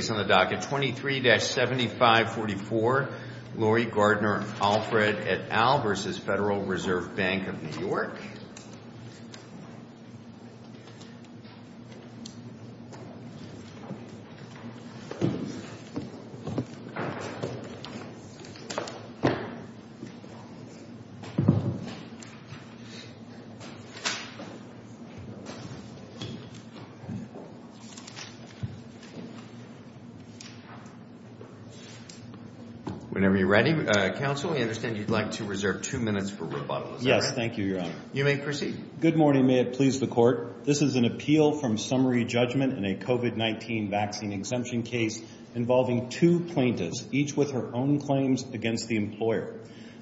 23-7544 Laurie Gardner-Alfred v. Federal Reserve Bank of New York Whenever you're ready, counsel. We understand you'd like to reserve two minutes for Colonoscopy probably. boleh pergi? Good morning. May it please the court. This is an appeal from Summary Judgment in a COVID-19 vaccine exemption case involving two plaintiffs, each with her own claims against the employer.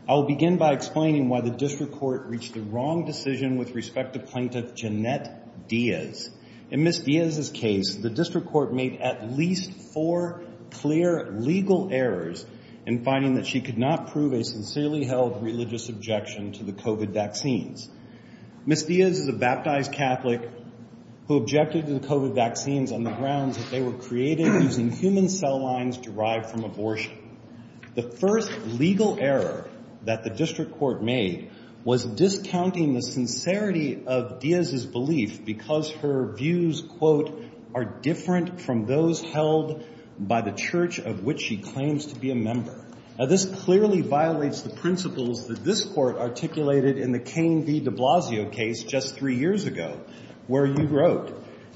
I will begin by explaining why the district court reached the wrong decision with respect to plaintiff Jeanette Diaz. In Ms. Diaz's case, the district court made at least four clear legal errors in finding that she could not prove a sincerely held religious objection to the COVID vaccines. Ms. Diaz is a baptized Catholic who objected to the COVID vaccines on the grounds that they were created using human cell lines derived from abortion. The first legal error that the district court made was discounting the sincerity of Diaz's belief because her views, quote, are different from those held by the church of which she claims to be a member. Now, this clearly violates the principles that this court articulated in the Cain v. de Blasio case just three years ago, where you wrote,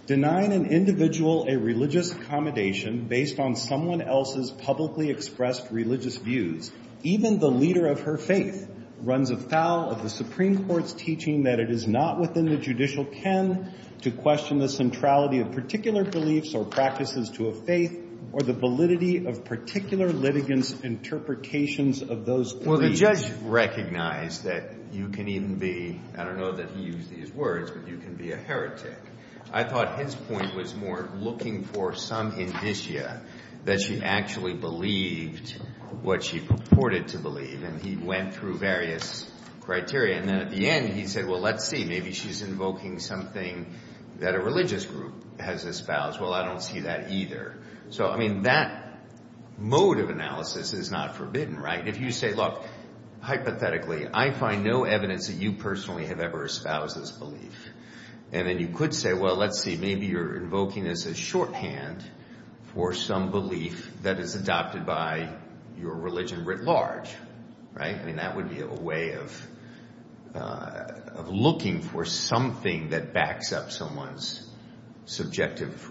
denying an individual a religious accommodation based on someone else's publicly expressed religious views, even the leader of her faith runs afoul of the Supreme Court's teaching that it is not within the judicial ken to question the centrality of particular beliefs or practices to a faith or the validity of particular litigants' interpretations of those beliefs. Well, the judge recognized that you can even be – I don't know that he used these words, but you can be a heretic. I thought his point was more looking for some indicia that she actually believed what she purported to believe, and he went through various criteria. And then at the end, he said, well, let's see. Maybe she's invoking something that a religious group has espoused. Well, I don't see that either. So, I mean, that mode of analysis is not forbidden, right? I mean, if you say, look, hypothetically, I find no evidence that you personally have ever espoused this belief, and then you could say, well, let's see, maybe you're invoking this as shorthand for some belief that is adopted by your religion writ large, right? I mean, that would be a way of looking for something that backs up someone's subjective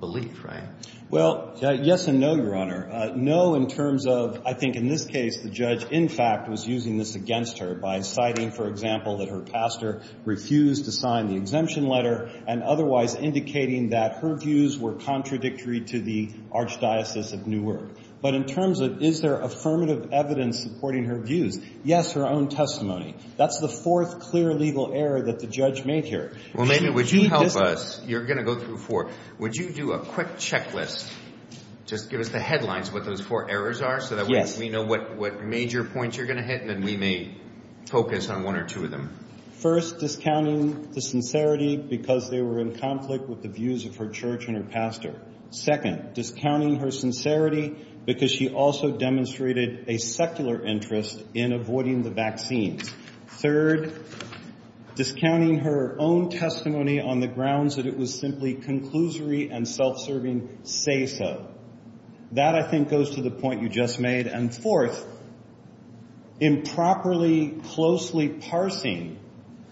belief, right? Well, yes and no, Your Honor. No in terms of, I think in this case, the judge, in fact, was using this against her by citing, for example, that her pastor refused to sign the exemption letter and otherwise indicating that her views were contradictory to the archdiocese of Newark. But in terms of is there affirmative evidence supporting her views, yes, her own testimony. That's the fourth clear legal error that the judge made here. Well, maybe would you help us? You're going to go through four. Would you do a quick checklist? Just give us the headlines of what those four errors are so that we know what major points you're going to hit and then we may focus on one or two of them. First, discounting the sincerity because they were in conflict with the views of her church and her pastor. Second, discounting her sincerity because she also demonstrated a secular interest in avoiding the vaccines. Third, discounting her own testimony on the grounds that it was simply conclusory and self-serving say-so. That, I think, goes to the point you just made. And fourth, improperly, closely parsing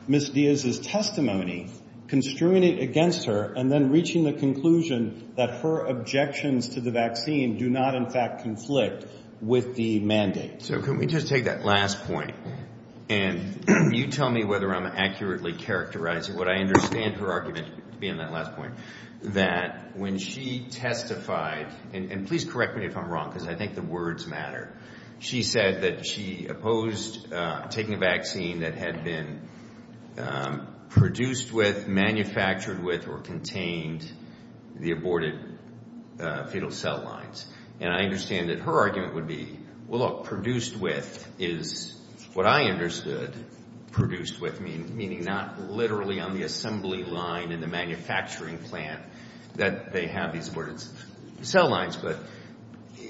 Ms. Diaz's testimony, construing it against her, and then reaching the conclusion that her objections to the vaccine do not, in fact, conflict with the mandate. So can we just take that last point? And you tell me whether I'm accurately characterizing what I understand her argument to be in that last point, that when she testified, and please correct me if I'm wrong because I think the words matter, she said that she opposed taking a vaccine that had been produced with, manufactured with, or contained the aborted fetal cell lines. And I understand that her argument would be, well, look, produced with is what I understood produced with, meaning not literally on the assembly line in the manufacturing plant that they have these aborted cell lines. But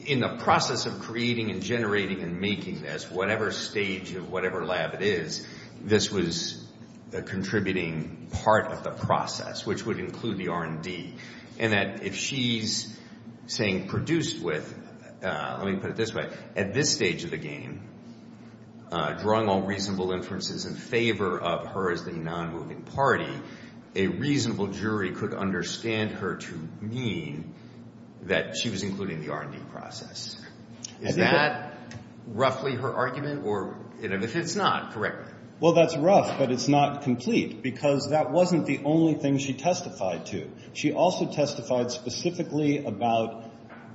in the process of creating and generating and making this, whatever stage of whatever lab it is, this was a contributing part of the process, which would include the R&D. And that if she's saying produced with, let me put it this way, at this stage of the game, drawing all reasonable inferences in favor of her as the nonmoving party, a reasonable jury could understand her to mean that she was including the R&D process. Is that roughly her argument? Or if it's not, correct me. Well, that's rough, but it's not complete because that wasn't the only thing she testified to. She also testified specifically about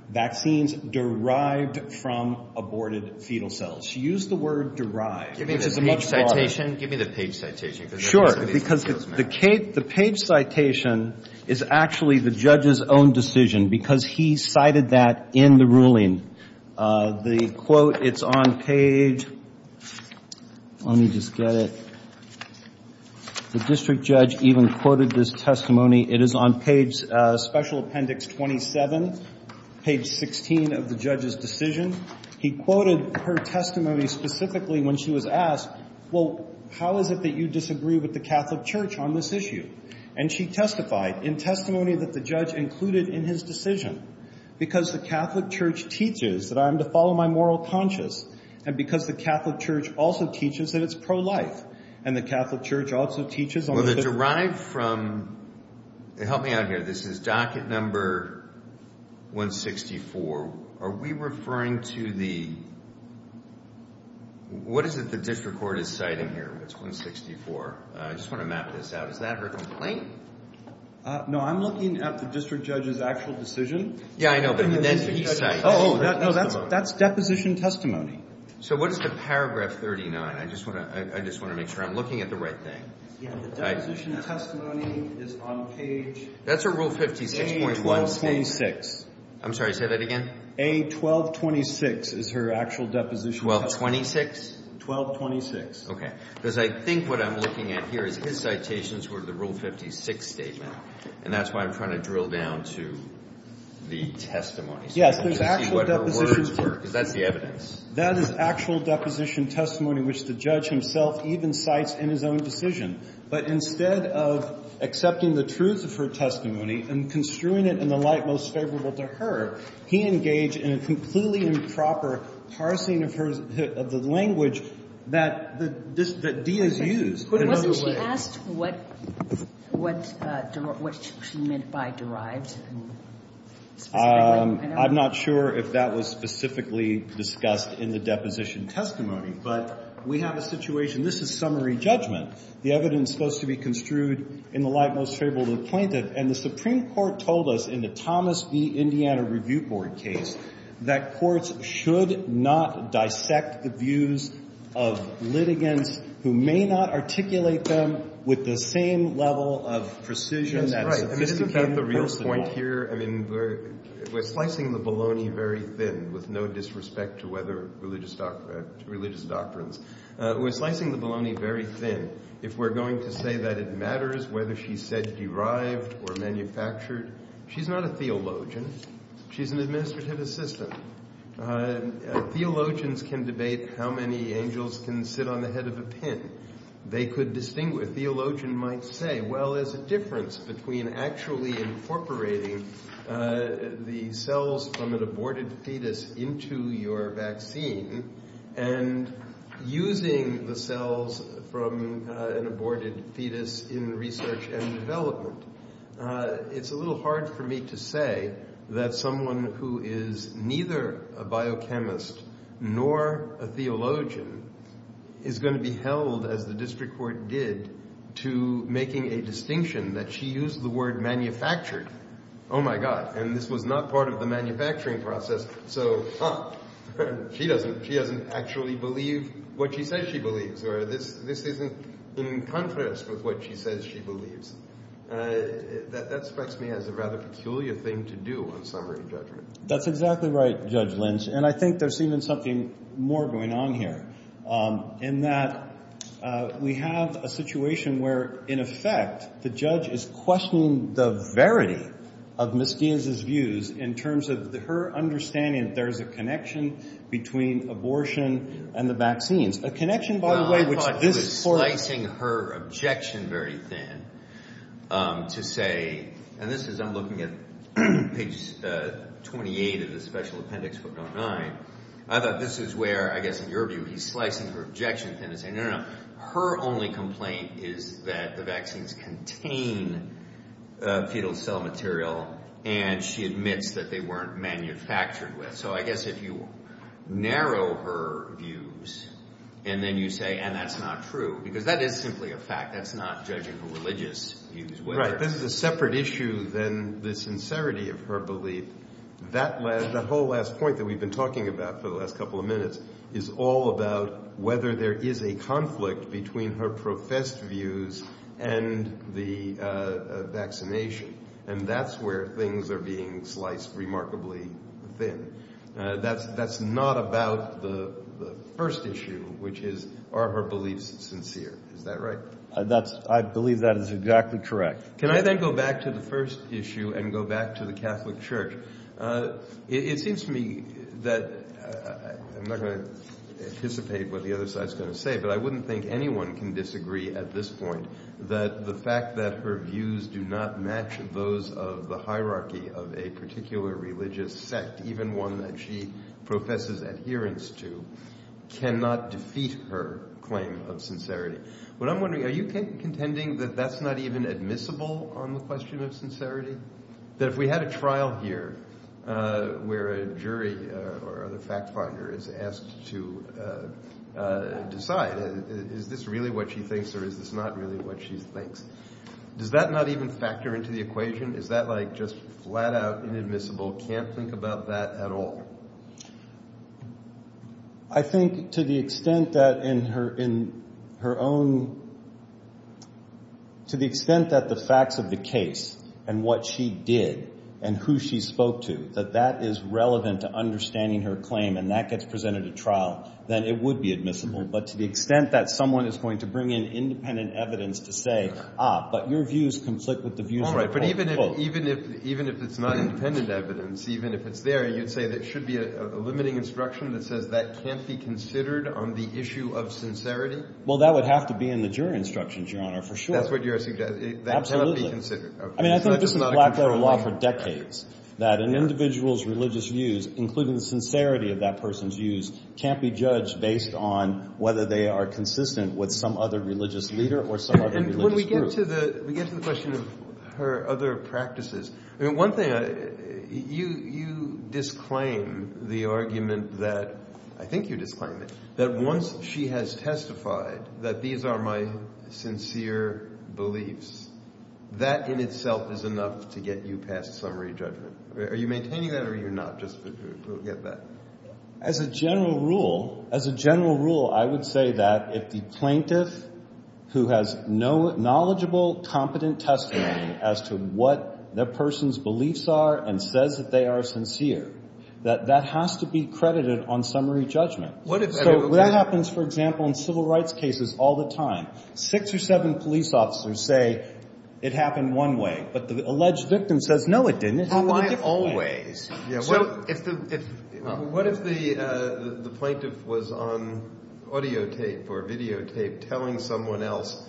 vaccines derived from aborted fetal cells. She used the word derived. Give me the page citation. Sure. Because the page citation is actually the judge's own decision because he cited that in the ruling. The quote, it's on page, let me just get it. The district judge even quoted this testimony. It is on page special appendix 27, page 16 of the judge's decision. He quoted her testimony specifically when she was asked, well, how is it that you disagree with the Catholic Church on this issue? And she testified in testimony that the judge included in his decision, because the Catholic Church teaches that I am to follow my moral conscience and because the Catholic Church also teaches that it's pro-life. And the Catholic Church also teaches on the 15th. Well, the derived from, help me out here, this is docket number 164. Are we referring to the, what is it the district court is citing here? It's 164. I just want to map this out. Is that her complaint? No, I'm looking at the district judge's actual decision. Yeah, I know, but then he cites. Oh, no, that's deposition testimony. So what is the paragraph 39? I just want to make sure I'm looking at the right thing. Yeah, the deposition testimony is on page. That's her rule 56.1. I'm sorry, say that again. A1226 is her actual deposition testimony. 1226? 1226. Okay, because I think what I'm looking at here is his citations were the rule 56 statement, and that's why I'm trying to drill down to the testimony. Yes, there's actual deposition. To see what her words were, because that's the evidence. That is actual deposition testimony which the judge himself even cites in his own decision. But instead of accepting the truth of her testimony and construing it in the light most favorable to her, he engaged in a completely improper parsing of the language that Diaz used. Wasn't she asked what she meant by derived specifically? I'm not sure if that was specifically discussed in the deposition testimony, but we have a situation. This is summary judgment. The evidence is supposed to be construed in the light most favorable to the plaintiff, and the Supreme Court told us in the Thomas v. Indiana Review Board case that courts should not dissect the views of litigants who may not articulate them with the same level of precision that Mr. King personally wanted. We're slicing the bologna very thin with no disrespect to religious doctrines. We're slicing the bologna very thin. If we're going to say that it matters whether she said derived or manufactured, she's not a theologian. She's an administrative assistant. Theologians can debate how many angels can sit on the head of a pin. They could distinguish. A theologian might say, well, there's a difference between actually incorporating the cells from an aborted fetus into your vaccine and using the cells from an aborted fetus in research and development. It's a little hard for me to say that someone who is neither a biochemist nor a theologian is going to be held, as the district court did, to making a distinction that she used the word manufactured. Oh, my God. And this was not part of the manufacturing process. So, huh, she doesn't actually believe what she says she believes. Or this isn't in contrast with what she says she believes. That strikes me as a rather peculiar thing to do on summary judgment. That's exactly right, Judge Lynch. And I think there's even something more going on here in that we have a situation where, in effect, the judge is questioning the verity of Ms. Deans' views in terms of her understanding that there is a connection between abortion and the vaccines. A connection, by the way, which this court. Well, I thought she was slicing her objection very thin to say, and this is I'm looking at page 28 of the special appendix, book number nine. I thought this is where, I guess in your view, he's slicing her objection thin to say, no, no, no, her only complaint is that the vaccines contain fetal cell material and she admits that they weren't manufactured with. So I guess if you narrow her views and then you say, and that's not true, because that is simply a fact. That's not judging her religious views. Right. This is a separate issue than the sincerity of her belief. The whole last point that we've been talking about for the last couple of minutes is all about whether there is a conflict between her professed views and the vaccination. And that's where things are being sliced remarkably thin. That's not about the first issue, which is are her beliefs sincere. Is that right? I believe that is exactly correct. Can I then go back to the first issue and go back to the Catholic Church? It seems to me that I'm not going to anticipate what the other side is going to say, but I wouldn't think anyone can disagree at this point that the fact that her views do not match those of the hierarchy of a particular religious sect, even one that she professes adherence to, cannot defeat her claim of sincerity. What I'm wondering, are you contending that that's not even admissible on the question of sincerity? That if we had a trial here where a jury or other fact finder is asked to decide, is this really what she thinks or is this not really what she thinks? Does that not even factor into the equation? Is that like just flat out inadmissible, can't think about that at all? I think to the extent that in her own, to the extent that the facts of the case and what she did and who she spoke to, that that is relevant to understanding her claim and that gets presented at trial, then it would be admissible. But to the extent that someone is going to bring in independent evidence to say, ah, but your views conflict with the views of the court. Even if it's not independent evidence, even if it's there, you'd say there should be a limiting instruction that says that can't be considered on the issue of sincerity? Well, that would have to be in the jury instructions, Your Honor, for sure. That's what you're suggesting. Absolutely. That cannot be considered. I mean, I think this is a black-letter law for decades, that an individual's religious views, including the sincerity of that person's views, can't be judged based on whether they are consistent with some other religious leader or some other religious group. And when we get to the question of her other practices, I mean, one thing, you disclaim the argument that, I think you disclaim it, that once she has testified that these are my sincere beliefs, that in itself is enough to get you past summary judgment. Are you maintaining that or are you not, just to get that? As a general rule, as a general rule, I would say that if the plaintiff who has no knowledgeable, competent testimony as to what their person's beliefs are and says that they are sincere, that that has to be credited on summary judgment. So that happens, for example, in civil rights cases all the time. Six or seven police officers say it happened one way, but the alleged victim says, no, it didn't. It happened a different way. What if the plaintiff was on audio tape or video tape telling someone else,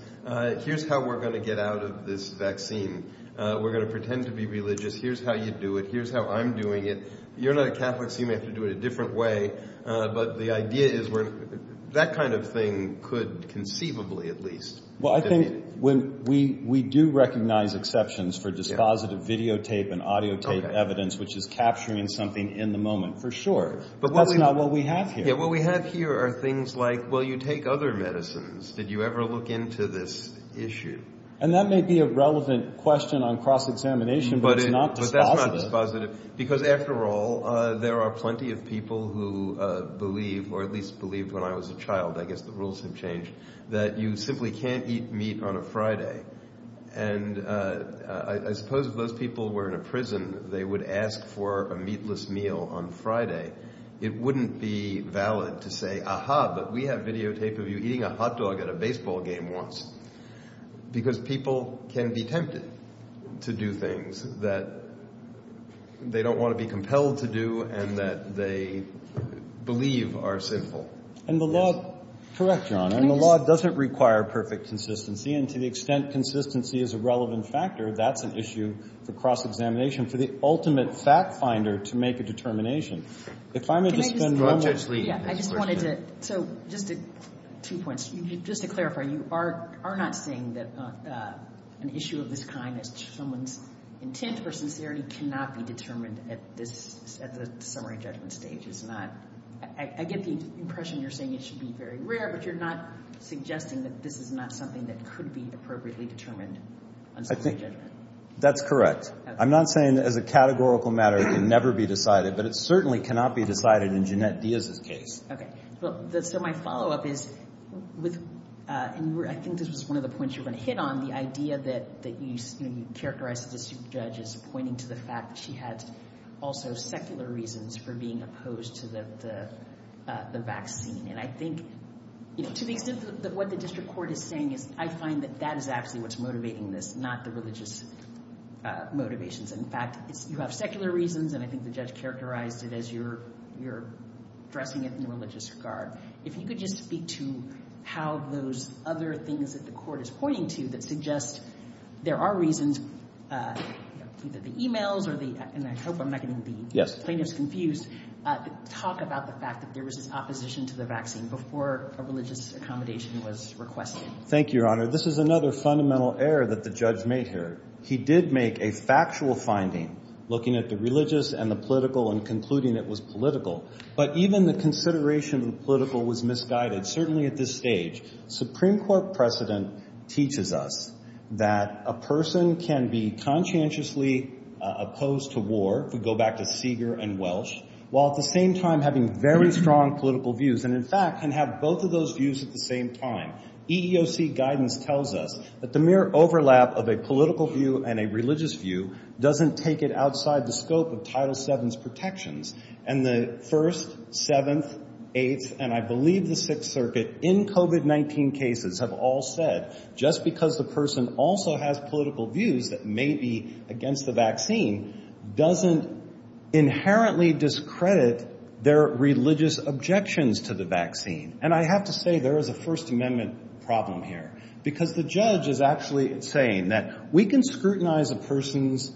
here's how we're going to get out of this vaccine. We're going to pretend to be religious. Here's how you do it. Here's how I'm doing it. You're not a Catholic, so you may have to do it a different way. But the idea is that kind of thing could conceivably at least. Well, I think we do recognize exceptions for dispositive video tape and audio tape evidence, which is capturing something in the moment, for sure. But that's not what we have here. Yeah, what we have here are things like, well, you take other medicines. Did you ever look into this issue? And that may be a relevant question on cross-examination, but it's not dispositive. But that's not dispositive, because after all, there are plenty of people who believe, or at least believed when I was a child, I guess the rules have changed, that you simply can't eat meat on a Friday. And I suppose if those people were in a prison, they would ask for a meatless meal on Friday. It wouldn't be valid to say, aha, but we have video tape of you eating a hot dog at a baseball game once. Because people can be tempted to do things that they don't want to be compelled to do and that they believe are sinful. Yes. Correct, Your Honor. And the law doesn't require perfect consistency. And to the extent consistency is a relevant factor, that's an issue for cross-examination, for the ultimate fact-finder to make a determination. If I'm going to spend one more minute. Yeah, I just wanted to. So just two points. Just to clarify, you are not saying that an issue of this kind, someone's intent or sincerity, cannot be determined at the summary judgment stage. I get the impression you're saying it should be very rare, but you're not suggesting that this is not something that could be appropriately determined on summary judgment. That's correct. I'm not saying that as a categorical matter it can never be decided, but it certainly cannot be decided in Jeannette Diaz's case. Okay. So my follow-up is, and I think this was one of the points you were going to hit on, the idea that you characterize the district judge as pointing to the fact that she had also secular reasons for being opposed to the vaccine. And I think, to the extent of what the district court is saying, I find that that is actually what's motivating this, not the religious motivations. In fact, you have secular reasons, and I think the judge characterized it as you're addressing it in a religious regard. If you could just speak to how those other things that the court is pointing to that suggest there are reasons, either the e-mails or the, and I hope I'm not getting the plaintiffs confused, talk about the fact that there was this opposition to the vaccine before a religious accommodation was requested. Thank you, Your Honor. This is another fundamental error that the judge made here. He did make a factual finding looking at the religious and the political and concluding it was political. But even the consideration of the political was misguided, certainly at this stage. Supreme Court precedent teaches us that a person can be conscientiously opposed to war, if we go back to Seeger and Welsh, while at the same time having very strong political views, and in fact can have both of those views at the same time. EEOC guidance tells us that the mere overlap of a political view and a religious view doesn't take it outside the scope of Title VII's protections, and the First, Seventh, Eighth, and I believe the Sixth Circuit, in COVID-19 cases, have all said just because the person also has political views that may be against the vaccine doesn't inherently discredit their religious objections to the vaccine. And I have to say there is a First Amendment problem here, because the judge is actually saying that we can scrutinize a person's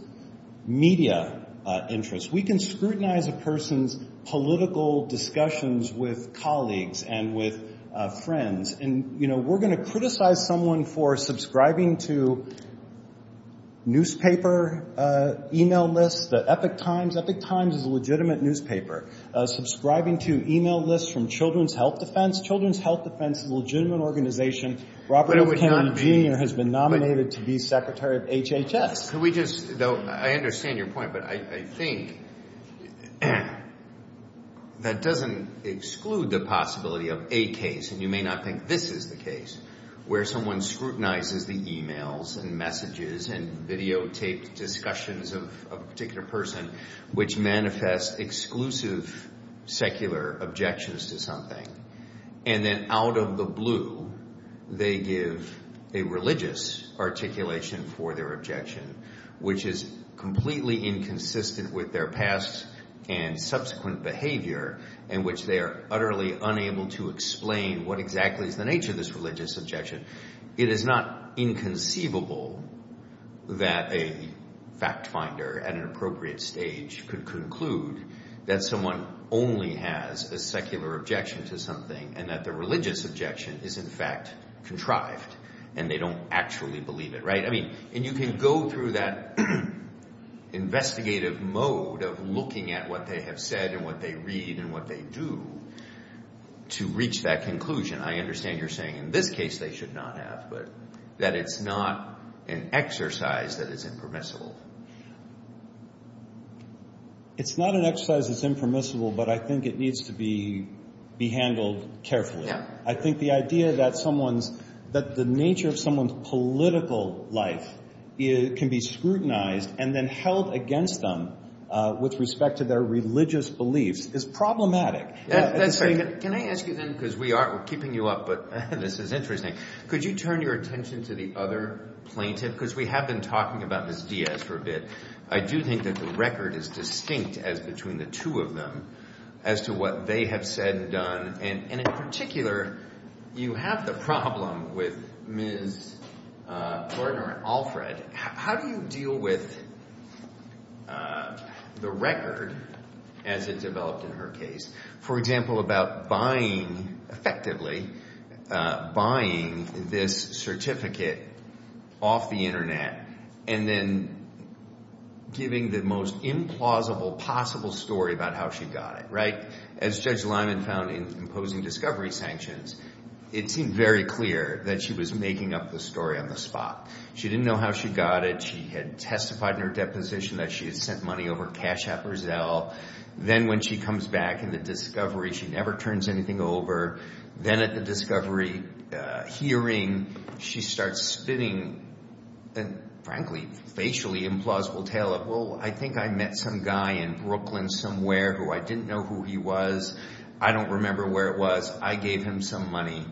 media interests. We can scrutinize a person's political discussions with colleagues and with friends. And, you know, we're going to criticize someone for subscribing to newspaper e-mail lists, the Epoch Times. Epoch Times is a legitimate newspaper. Subscribing to e-mail lists from Children's Health Defense. Children's Health Defense is a legitimate organization. Robert F. Kennedy, Jr. has been nominated to be secretary of HHS. I understand your point, but I think that doesn't exclude the possibility of a case, and you may not think this is the case, where someone scrutinizes the e-mails and messages and videotaped discussions of a particular person which manifest exclusive secular objections to something, and then out of the blue they give a religious articulation for their objection, which is completely inconsistent with their past and subsequent behavior in which they are utterly unable to explain what exactly is the nature of this religious objection. It is not inconceivable that a fact finder at an appropriate stage could conclude that someone only has a secular objection to something and that the religious objection is in fact contrived and they don't actually believe it, right? I mean, and you can go through that investigative mode of looking at what they have said and what they read and what they do to reach that conclusion. I understand you're saying in this case they should not have, but that it's not an exercise that is impermissible. It's not an exercise that's impermissible, but I think it needs to be handled carefully. I think the idea that the nature of someone's political life can be scrutinized and then held against them with respect to their religious beliefs is problematic. That's right. Can I ask you then, because we are keeping you up, but this is interesting. Could you turn your attention to the other plaintiff? Because we have been talking about Ms. Diaz for a bit. I do think that the record is distinct as between the two of them as to what they have said and done. And in particular, you have the problem with Ms. Gordner and Alfred. How do you deal with the record as it developed in her case, for example, effectively buying this certificate off the Internet and then giving the most implausible possible story about how she got it? As Judge Lyman found in imposing discovery sanctions, it seemed very clear that she was making up the story on the spot. She didn't know how she got it. She had testified in her deposition that she had sent money over cash appraisal. Then when she comes back in the discovery, she never turns anything over. Then at the discovery hearing, she starts spitting a, frankly, facially implausible tale of, well, I think I met some guy in Brooklyn somewhere who I didn't know who he was. I don't remember where it was. I gave him some money.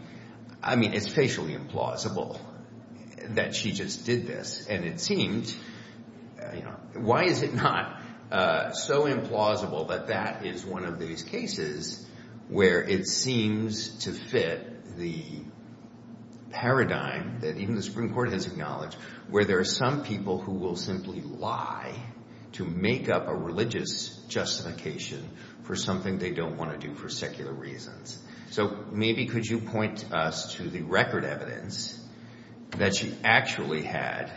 I mean, it's facially implausible that she just did this. Why is it not so implausible that that is one of these cases where it seems to fit the paradigm that even the Supreme Court has acknowledged, where there are some people who will simply lie to make up a religious justification for something they don't want to do for secular reasons? So maybe could you point us to the record evidence that she actually had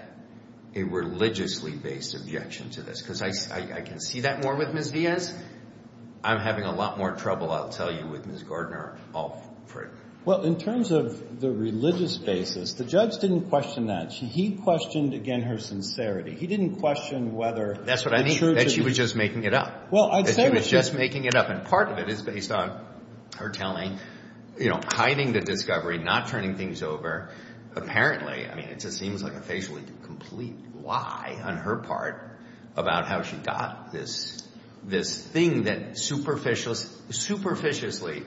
a religiously-based objection to this? Because I can see that more with Ms. Villes. I'm having a lot more trouble, I'll tell you, with Ms. Gardner. Well, in terms of the religious basis, the judge didn't question that. He questioned, again, her sincerity. He didn't question whether the truth is true. That's what I mean, that she was just making it up. And part of it is based on her telling, hiding the discovery, not turning things over. Apparently, I mean, it just seems like a facially complete lie on her part about how she got this thing that superficially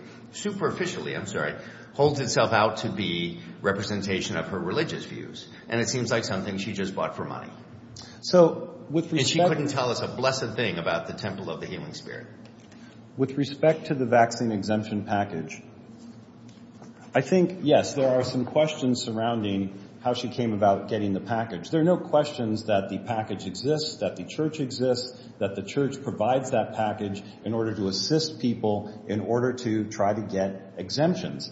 holds itself out to be representation of her religious views, and it seems like something she just bought for money. And she couldn't tell us a blessed thing about the Temple of the Healing Spirit? With respect to the vaccine exemption package, I think, yes, there are some questions surrounding how she came about getting the package. There are no questions that the package exists, that the church exists, that the church provides that package in order to assist people in order to try to get exemptions.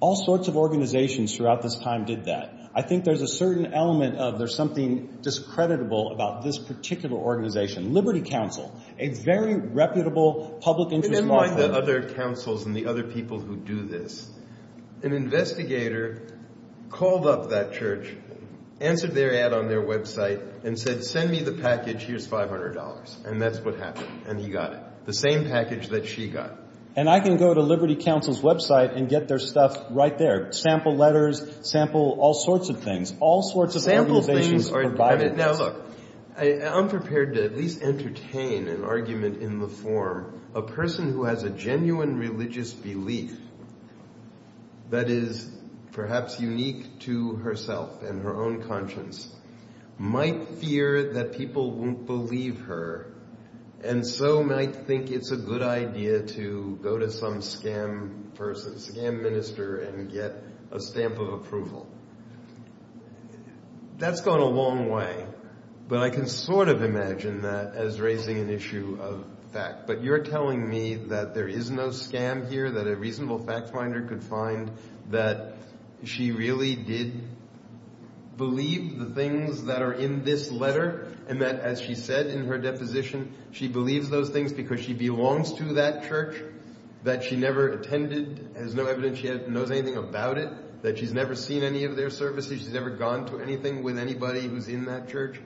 All sorts of organizations throughout this time did that. I think there's a certain element of there's something discreditable about this particular organization. Liberty Council, a very reputable public interest law firm. But unlike the other councils and the other people who do this, an investigator called up that church, answered their ad on their website, and said, send me the package, here's $500. And that's what happened, and he got it, the same package that she got. And I can go to Liberty Council's website and get their stuff right there, sample letters, sample all sorts of things. All sorts of organizations provided this. Now, look, I'm prepared to at least entertain an argument in the form, a person who has a genuine religious belief that is perhaps unique to herself and her own conscience might fear that people won't believe her, and so might think it's a good idea to go to some scam minister and get a stamp of approval. That's gone a long way, but I can sort of imagine that as raising an issue of fact. But you're telling me that there is no scam here, that a reasonable fact finder could find that she really did believe the things that are in this letter, and that, as she said in her deposition, she believes those things because she belongs to that church, that she never attended, has no evidence she knows anything about it, that she's never seen any of their services, she's never gone to anything with anybody who's in that church?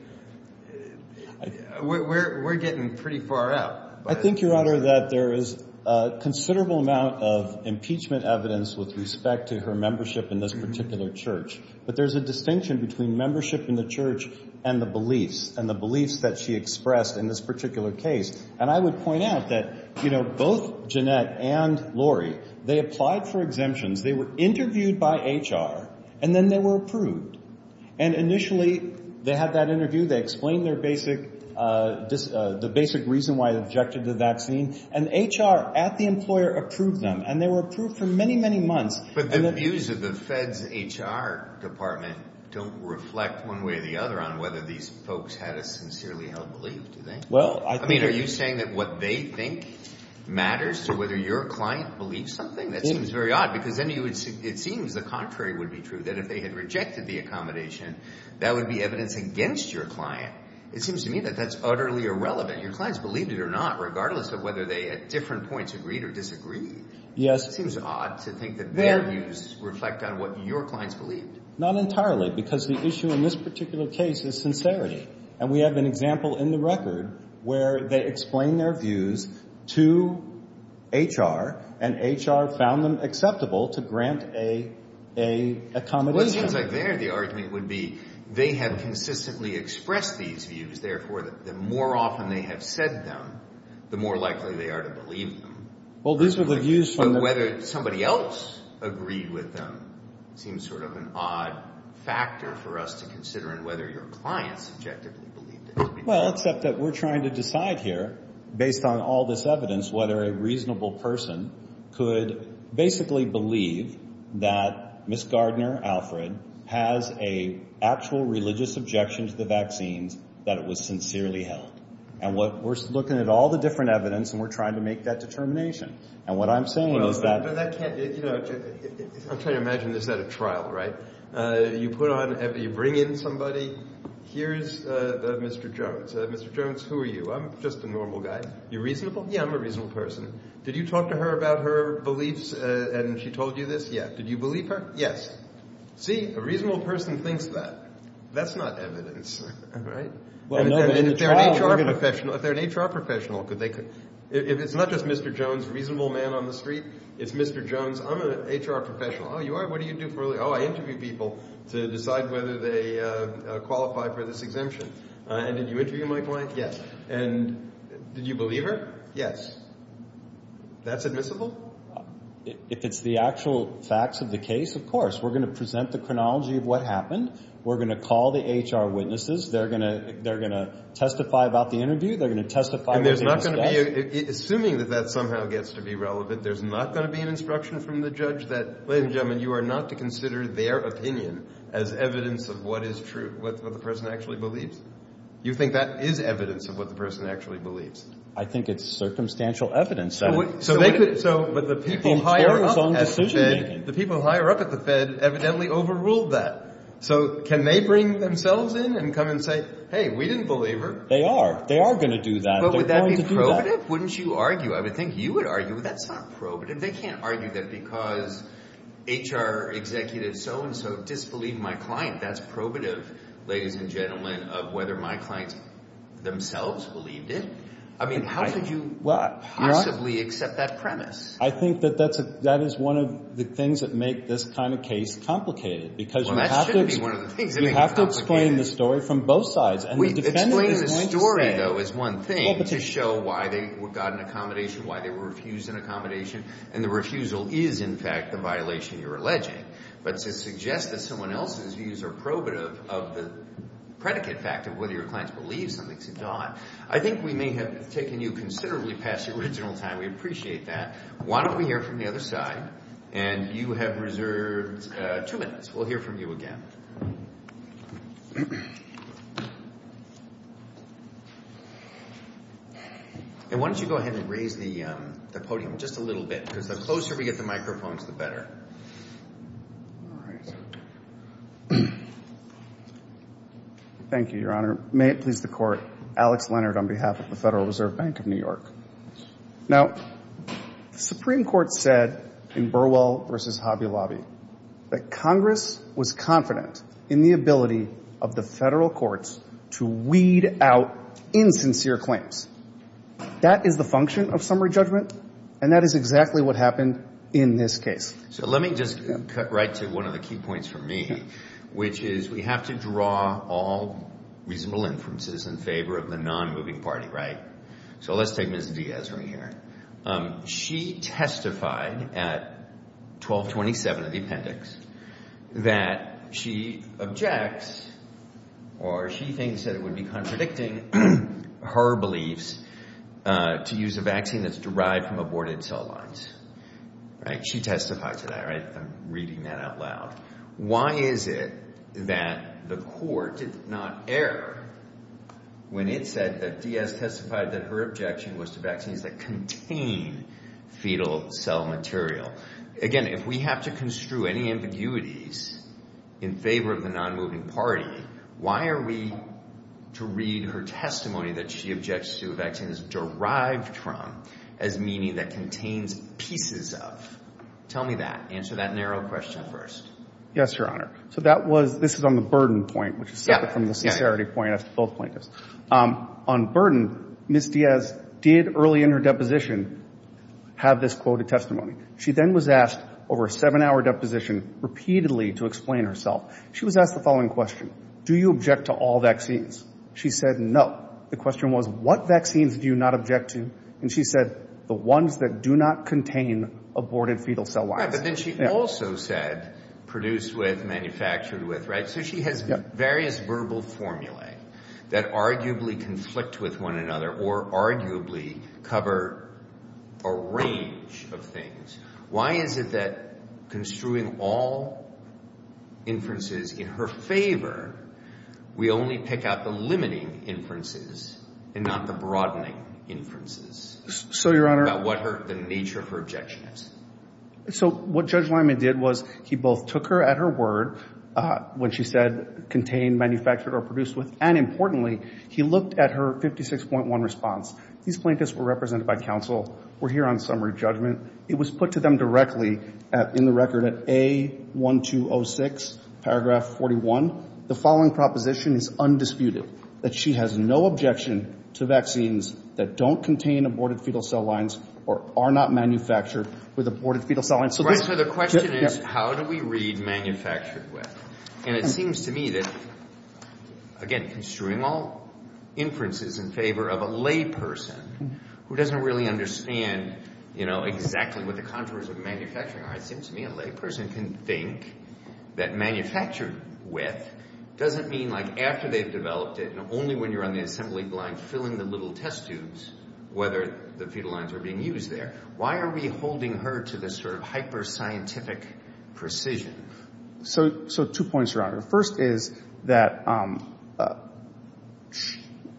We're getting pretty far out. I think, Your Honor, that there is a considerable amount of impeachment evidence with respect to her membership in this particular church. But there's a distinction between membership in the church and the beliefs, and the beliefs that she expressed in this particular case. And I would point out that, you know, both Jeanette and Lori, they applied for exemptions. They were interviewed by HR, and then they were approved. And initially they had that interview. They explained the basic reason why they objected to the vaccine, and HR at the employer approved them, and they were approved for many, many months. But the views of the Fed's HR department don't reflect one way or the other on whether these folks had a sincerely held belief, do they? I mean, are you saying that what they think matters to whether your client believes something? That seems very odd because then it seems the contrary would be true, that if they had rejected the accommodation, that would be evidence against your client. It seems to me that that's utterly irrelevant. Your clients believed it or not, regardless of whether they at different points agreed or disagreed. Yes. It seems odd to think that their views reflect on what your clients believed. Not entirely because the issue in this particular case is sincerity, and we have an example in the record where they explain their views to HR, and HR found them acceptable to grant a accommodation. Well, it seems like there the argument would be they have consistently expressed these views. Therefore, the more often they have said them, the more likely they are to believe them. Well, these are the views from the But whether somebody else agreed with them seems sort of an odd factor for us to consider in whether your clients objectively believed it. Well, except that we're trying to decide here, based on all this evidence, whether a reasonable person could basically believe that Ms. Gardner, Alfred, has an actual religious objection to the vaccines, that it was sincerely held. And we're looking at all the different evidence, and we're trying to make that determination. And what I'm saying is that I'm trying to imagine this at a trial, right? You put on – you bring in somebody. Here's Mr. Jones. Mr. Jones, who are you? I'm just a normal guy. You're reasonable? Yeah, I'm a reasonable person. Did you talk to her about her beliefs and she told you this? Yeah. Did you believe her? Yes. See? A reasonable person thinks that. That's not evidence, right? If they're an HR professional, could they – it's not just Mr. Jones, reasonable man on the street. It's Mr. Jones, I'm an HR professional. Oh, you are? What do you do for a living? Oh, I interview people to decide whether they qualify for this exemption. And did you interview my client? Yes. And did you believe her? Yes. That's admissible? If it's the actual facts of the case, of course. We're going to present the chronology of what happened. We're going to call the HR witnesses. They're going to testify about the interview. They're going to testify about the investigation. Assuming that that somehow gets to be relevant, there's not going to be an instruction from the judge that, ladies and gentlemen, you are not to consider their opinion as evidence of what is true, what the person actually believes. You think that is evidence of what the person actually believes? I think it's circumstantial evidence. But the people higher up at the Fed evidently overruled that. So can they bring themselves in and come and say, hey, we didn't believe her? They are. They are going to do that. But would that be probative? Wouldn't you argue? I would think you would argue that's not probative. They can't argue that because HR executives so-and-so disbelieved my client. That's probative, ladies and gentlemen, of whether my clients themselves believed it. I mean, how could you possibly accept that premise? I think that that is one of the things that make this kind of case complicated because you have to explain the story from both sides. Explain the story, though, is one thing to show why they got an accommodation, why they were refused an accommodation. And the refusal is, in fact, the violation you're alleging. But to suggest that someone else's views are probative of the predicate fact of whether your clients believe something's a dot, I think we may have taken you considerably past the original time. We appreciate that. Why don't we hear from the other side? And you have reserved two minutes. We'll hear from you again. And why don't you go ahead and raise the podium just a little bit because the closer we get the microphones, the better. Thank you, Your Honor. May it please the Court. Alex Leonard on behalf of the Federal Reserve Bank of New York. Now, the Supreme Court said in Burwell v. Hobby Lobby that Congress was confident in the ability of the federal courts to weed out insincere claims. That is the function of summary judgment, and that is exactly what happened in this case. So let me just cut right to one of the key points for me, which is we have to draw all reasonable inferences in favor of the nonmoving party. So let's take Ms. Diaz right here. She testified at 1227 of the appendix that she objects or she thinks that it would be contradicting her beliefs to use a vaccine that's derived from aborted cell lines. She testified to that. I'm reading that out loud. Why is it that the Court did not err when it said that Diaz testified that her objection was to vaccines that contain fetal cell material? Again, if we have to construe any ambiguities in favor of the nonmoving party, why are we to read her testimony that she objects to a vaccine that's derived from as meaning that contains pieces of? Tell me that. Answer that narrow question first. Yes, Your Honor. So that was, this is on the burden point, which is separate from the sincerity point of both plaintiffs. On burden, Ms. Diaz did early in her deposition have this quoted testimony. She then was asked over a seven-hour deposition repeatedly to explain herself. She was asked the following question. Do you object to all vaccines? She said no. The question was what vaccines do you not object to? And she said the ones that do not contain aborted fetal cell lines. But then she also said produced with, manufactured with, right? So she has various verbal formulae that arguably conflict with one another or arguably cover a range of things. Why is it that construing all inferences in her favor, we only pick out the limiting inferences and not the broadening inferences? So, Your Honor. About what the nature of her objection is. So what Judge Lyman did was he both took her at her word when she said contain, manufactured, or produced with, and importantly he looked at her 56.1 response. These plaintiffs were represented by counsel, were here on summary judgment. It was put to them directly in the record at A1206, paragraph 41. The following proposition is undisputed. That she has no objection to vaccines that don't contain aborted fetal cell lines or are not manufactured with aborted fetal cell lines. So the question is how do we read manufactured with? And it seems to me that, again, construing all inferences in favor of a layperson who doesn't really understand, you know, exactly what the contours of manufacturing are, and it seems to me a layperson can think that manufactured with doesn't mean, like, after they've developed it and only when you're on the assembly line filling the little test tubes whether the fetal lines are being used there. Why are we holding her to this sort of hyper-scientific precision? So two points, Your Honor. First is that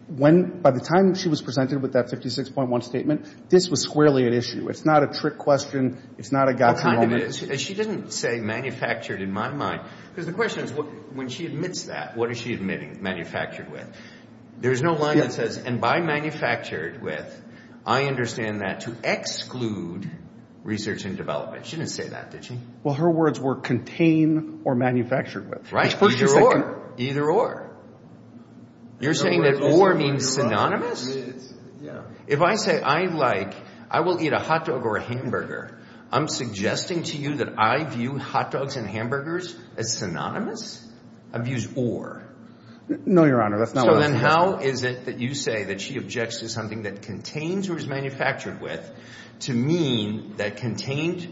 when, by the time she was presented with that 56.1 statement, this was squarely an issue. It's not a trick question. It's not a gotcha moment. She didn't say manufactured in my mind. Because the question is when she admits that, what is she admitting? Manufactured with. There's no line that says, and by manufactured with, I understand that to exclude research and development. She didn't say that, did she? Well, her words were contain or manufactured with. Right. Either or. Either or. You're saying that or means synonymous? If I say I like, I will eat a hot dog or a hamburger, I'm suggesting to you that I view hot dogs and hamburgers as synonymous? I've used or. No, Your Honor. So then how is it that you say that she objects to something that contains or is manufactured with to mean that contained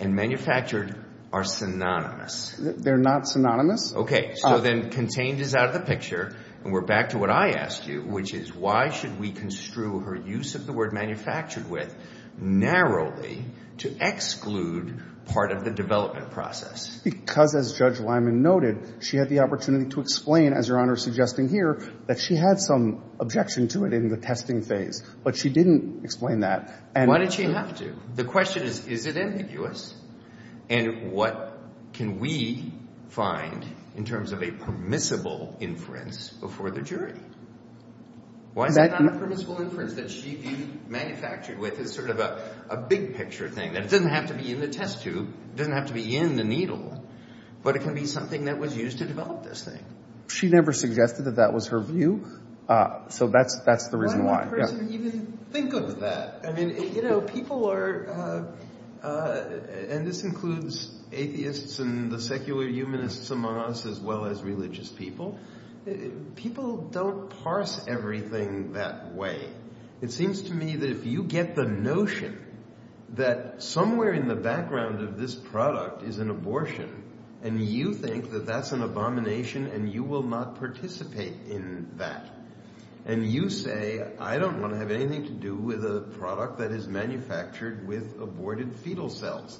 and manufactured are synonymous? They're not synonymous. Okay. So then contained is out of the picture, and we're back to what I asked you, which is why should we construe her use of the word manufactured with narrowly to exclude part of the development process? Because, as Judge Lyman noted, she had the opportunity to explain, as Your Honor is suggesting here, that she had some objection to it in the testing phase, but she didn't explain that. Why did she have to? The question is, is it ambiguous? And what can we find in terms of a permissible inference before the jury? Why is it not a permissible inference that she manufactured with as sort of a big-picture thing, that it doesn't have to be in the test tube, it doesn't have to be in the needle, but it can be something that was used to develop this thing? She never suggested that that was her view, so that's the reason why. Why would a person even think of that? I mean, you know, people are – and this includes atheists and the secular humanists among us as well as religious people – people don't parse everything that way. It seems to me that if you get the notion that somewhere in the background of this product is an abortion, and you think that that's an abomination, and you will not participate in that, and you say, I don't want to have anything to do with a product that is manufactured with aborted fetal cells,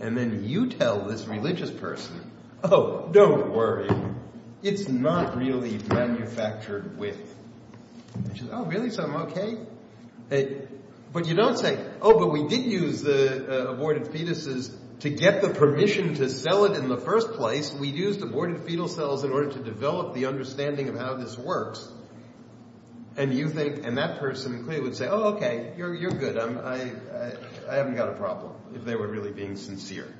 and then you tell this religious person, oh, don't worry, it's not really manufactured with. And she says, oh, really, so I'm okay? But you don't say, oh, but we did use the aborted fetuses to get the permission to sell it in the first place. We used aborted fetal cells in order to develop the understanding of how this works. And you think – and that person clearly would say, oh, okay, you're good, I haven't got a problem, if they were really being sincere.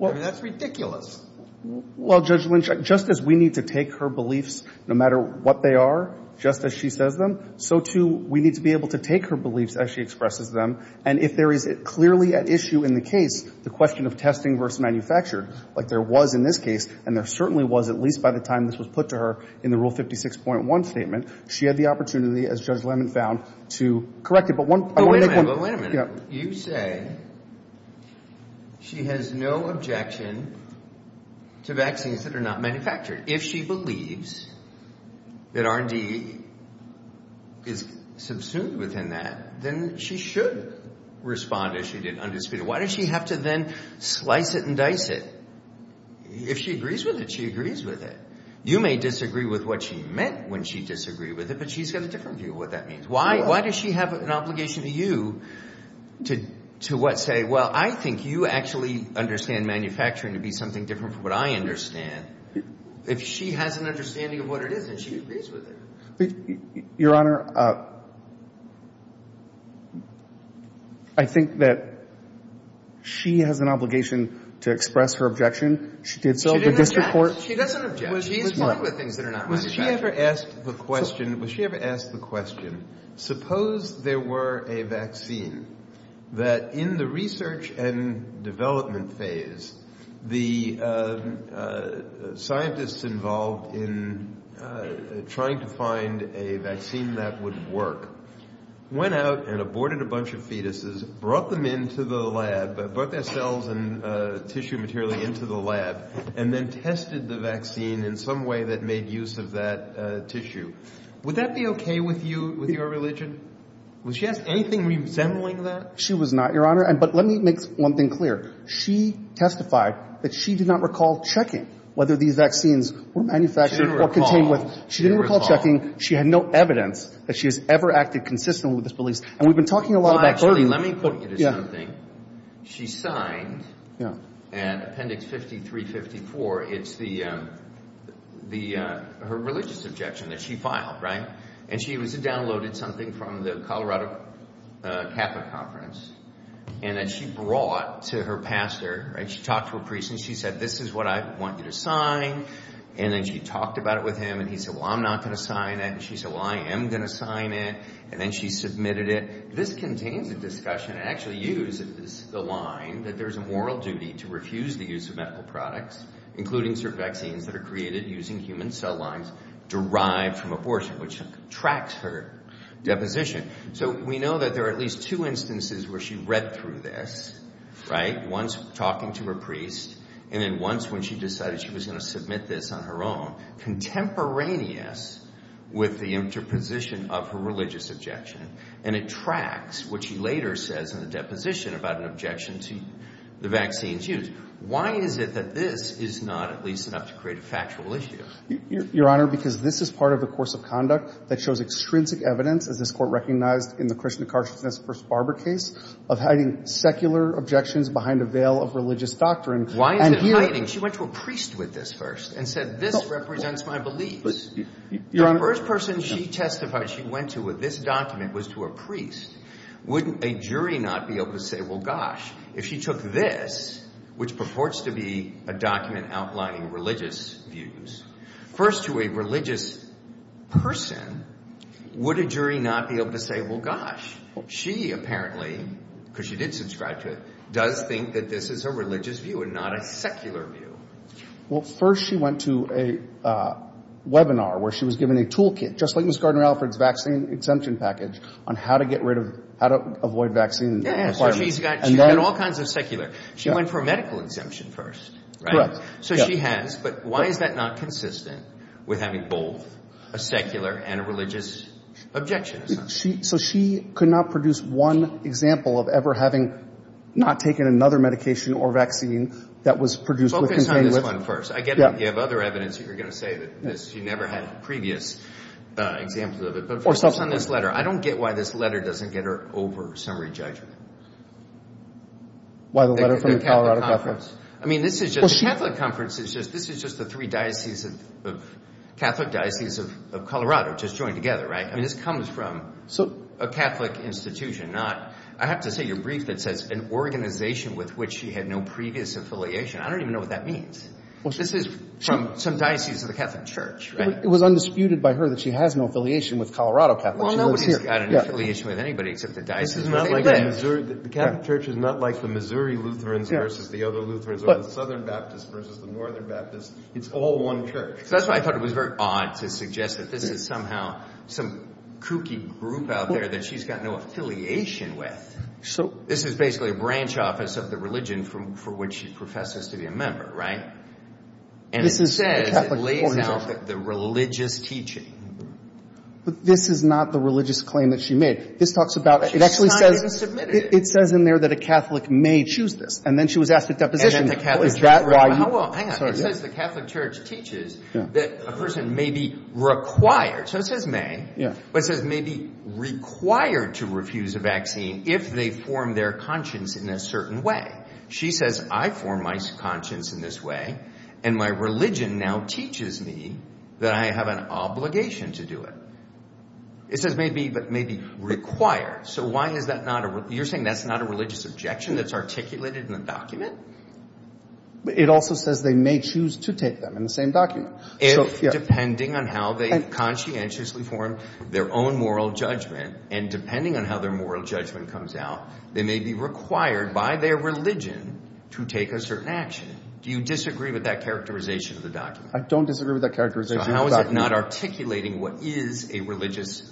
I mean, that's ridiculous. Well, Judge Lynch, just as we need to take her beliefs, no matter what they are, just as she says them, so too we need to be able to take her beliefs as she expresses them. And if there is clearly at issue in the case the question of testing versus manufactured, like there was in this case, and there certainly was at least by the time this was put to her in the Rule 56.1 statement, she had the opportunity, as Judge Lemon found, to correct it. But wait a minute. You say she has no objection to vaccines that are not manufactured. If she believes that R&D is subsumed within that, then she should respond as she did undisputedly. Why does she have to then slice it and dice it? If she agrees with it, she agrees with it. You may disagree with what she meant when she disagreed with it, but she's got a different view of what that means. Why does she have an obligation to you to, what, say, well, I think you actually understand manufacturing to be something different from what I understand. If she has an understanding of what it is, then she agrees with it. Your Honor, I think that she has an obligation to express her objection. She did so in the district court. She doesn't object. She's fine with things that are not manufactured. Was she ever asked the question, suppose there were a vaccine that, in the research and development phase, the scientists involved in trying to find a vaccine that would work went out and aborted a bunch of fetuses, brought them into the lab, brought their cells and tissue material into the lab, and then tested the vaccine in some way that made use of that tissue. Would that be okay with you, with your religion? Was she asked anything resembling that? She was not, Your Honor. But let me make one thing clear. She testified that she did not recall checking whether these vaccines were manufactured or contained with her. She didn't recall checking. She had no evidence that she has ever acted consistently with this belief. And we've been talking a lot about burden. Actually, let me put you to something. Yeah. She signed. Yeah. In appendix 5354, it's her religious objection that she filed, right? And she downloaded something from the Colorado CAFA conference and then she brought to her pastor, right? She talked to her priest and she said, This is what I want you to sign. And then she talked about it with him and he said, Well, I'm not going to sign it. And she said, Well, I am going to sign it. And then she submitted it. This contains a discussion and actually uses the line that there's a moral duty to refuse the use of medical products, including certain vaccines that are created using human cell lines derived from abortion, which tracks her deposition. So we know that there are at least two instances where she read through this, right? Once talking to her priest. And then once when she decided she was going to submit this on her own, contemporaneous with the interposition of her religious objection. And it tracks what she later says in the deposition about an objection to the vaccine's use. Why is it that this is not at least enough to create a factual issue? Your Honor, because this is part of the course of conduct that shows extrinsic evidence, as this Court recognized in the Krishna Karshnes v. Barber case, of hiding secular objections behind a veil of religious doctrine. Why is it hiding? She went to a priest with this first and said, This represents my beliefs. Your Honor. The first person she testified she went to with this document was to a priest. Wouldn't a jury not be able to say, Well, gosh, if she took this, which purports to be a document outlining religious views, first to a religious person, would a jury not be able to say, Well, gosh, she apparently, because she did subscribe to it, does think that this is a religious view and not a secular view. Well, first she went to a webinar where she was given a toolkit, just like Ms. Gardner-Alfred's vaccine exemption package, on how to avoid vaccine requirements. Yeah, yeah. She's got all kinds of secular. She went for medical exemption first. Correct. So she has. But why is that not consistent with having both a secular and a religious objection? So she could not produce one example of ever having not taken another medication or vaccine that was produced with containment. Focus on this one first. I get it. You have other evidence that you're going to say that she never had previous examples of it. But focus on this letter. I don't get why this letter doesn't get her over summary judgment. Why the letter from the Colorado Conference? I mean, this is just the Catholic Conference. This is just the three Catholic Dioceses of Colorado just joined together, right? I mean, this comes from a Catholic institution, not – I have to say your brief that says an organization with which she had no previous affiliation. I don't even know what that means. This is from some diocese of the Catholic Church, right? It was undisputed by her that she has no affiliation with Colorado Catholic. Well, nobody's got an affiliation with anybody except the diocese where they live. The Catholic Church is not like the Missouri Lutherans versus the other Lutherans or the Southern Baptists versus the Northern Baptists. It's all one church. That's why I thought it was very odd to suggest that this is somehow some kooky group out there that she's got no affiliation with. This is basically a branch office of the religion for which she professes to be a member, right? And it says it lays out the religious teaching. But this is not the religious claim that she made. This talks about – it actually says – She signed it and submitted it. It says in there that a Catholic may choose this. And then she was asked to deposit it. And then the Catholic Church – Is that why you – Well, hang on. It says the Catholic Church teaches that a person may be required. So it says may. Yeah. But it says may be required to refuse a vaccine if they form their conscience in a certain way. She says I form my conscience in this way, and my religion now teaches me that I have an obligation to do it. It says may be, but may be required. So why is that not a – you're saying that's not a religious objection that's articulated in the document? It also says they may choose to take them in the same document. If, depending on how they conscientiously form their own moral judgment, and depending on how their moral judgment comes out, they may be required by their religion to take a certain action. Do you disagree with that characterization of the document? I don't disagree with that characterization. So how is it not articulating what is a religious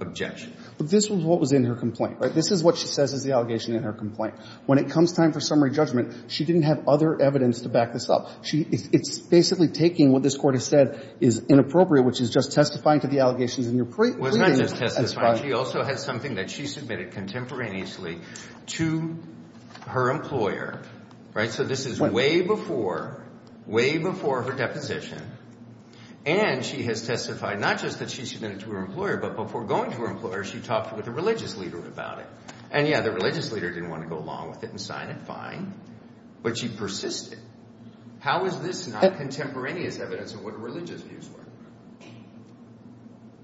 objection? But this was what was in her complaint, right? This is what she says is the allegation in her complaint. When it comes time for summary judgment, she didn't have other evidence to back this up. It's basically taking what this Court has said is inappropriate, which is just testifying to the allegations in your plea. Well, it's not just testifying. She also has something that she submitted contemporaneously to her employer, right? So this is way before – way before her deposition. And she has testified not just that she submitted it to her employer, but before going to her employer, she talked with the religious leader about it. And, yeah, the religious leader didn't want to go along with it and sign it. Fine. But she persisted. How is this not contemporaneous evidence of what religious views were?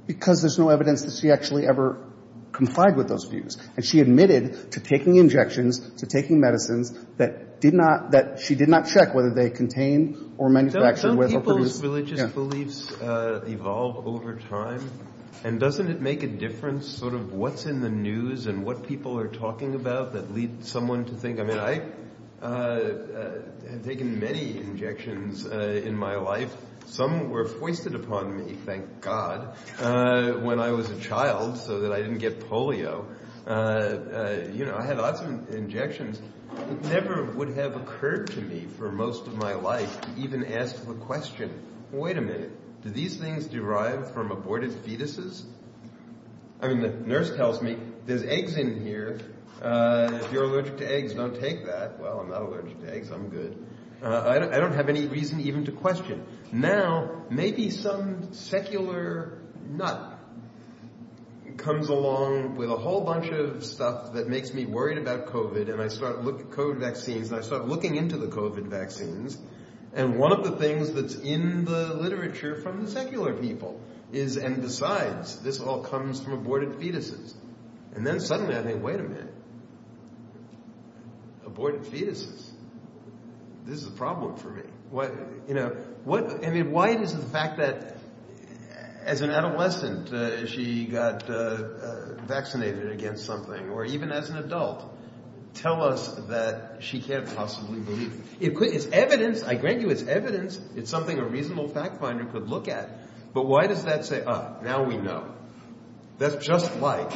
Because there's no evidence that she actually ever complied with those views. And she admitted to taking injections, to taking medicines that did not – that she did not check whether they contained or manufactured. Don't people's religious beliefs evolve over time? And doesn't it make a difference sort of what's in the news and what people are talking about that leads someone to think? I mean, I have taken many injections in my life. Some were foisted upon me, thank God, when I was a child so that I didn't get polio. I had lots of injections. It never would have occurred to me for most of my life to even ask the question, wait a minute, do these things derive from aborted fetuses? I mean the nurse tells me there's eggs in here. If you're allergic to eggs, don't take that. Well, I'm not allergic to eggs. I'm good. I don't have any reason even to question. Now, maybe some secular nut comes along with a whole bunch of stuff that makes me worried about COVID and I start looking into the COVID vaccines. And one of the things that's in the literature from the secular people is, and besides, this all comes from aborted fetuses. And then suddenly I think, wait a minute, aborted fetuses. This is a problem for me. I mean, why is it the fact that as an adolescent she got vaccinated against something, or even as an adult, tell us that she can't possibly believe it? It's evidence. I grant you it's evidence. It's something a reasonable fact finder could look at. But why does that say, ah, now we know? That's just like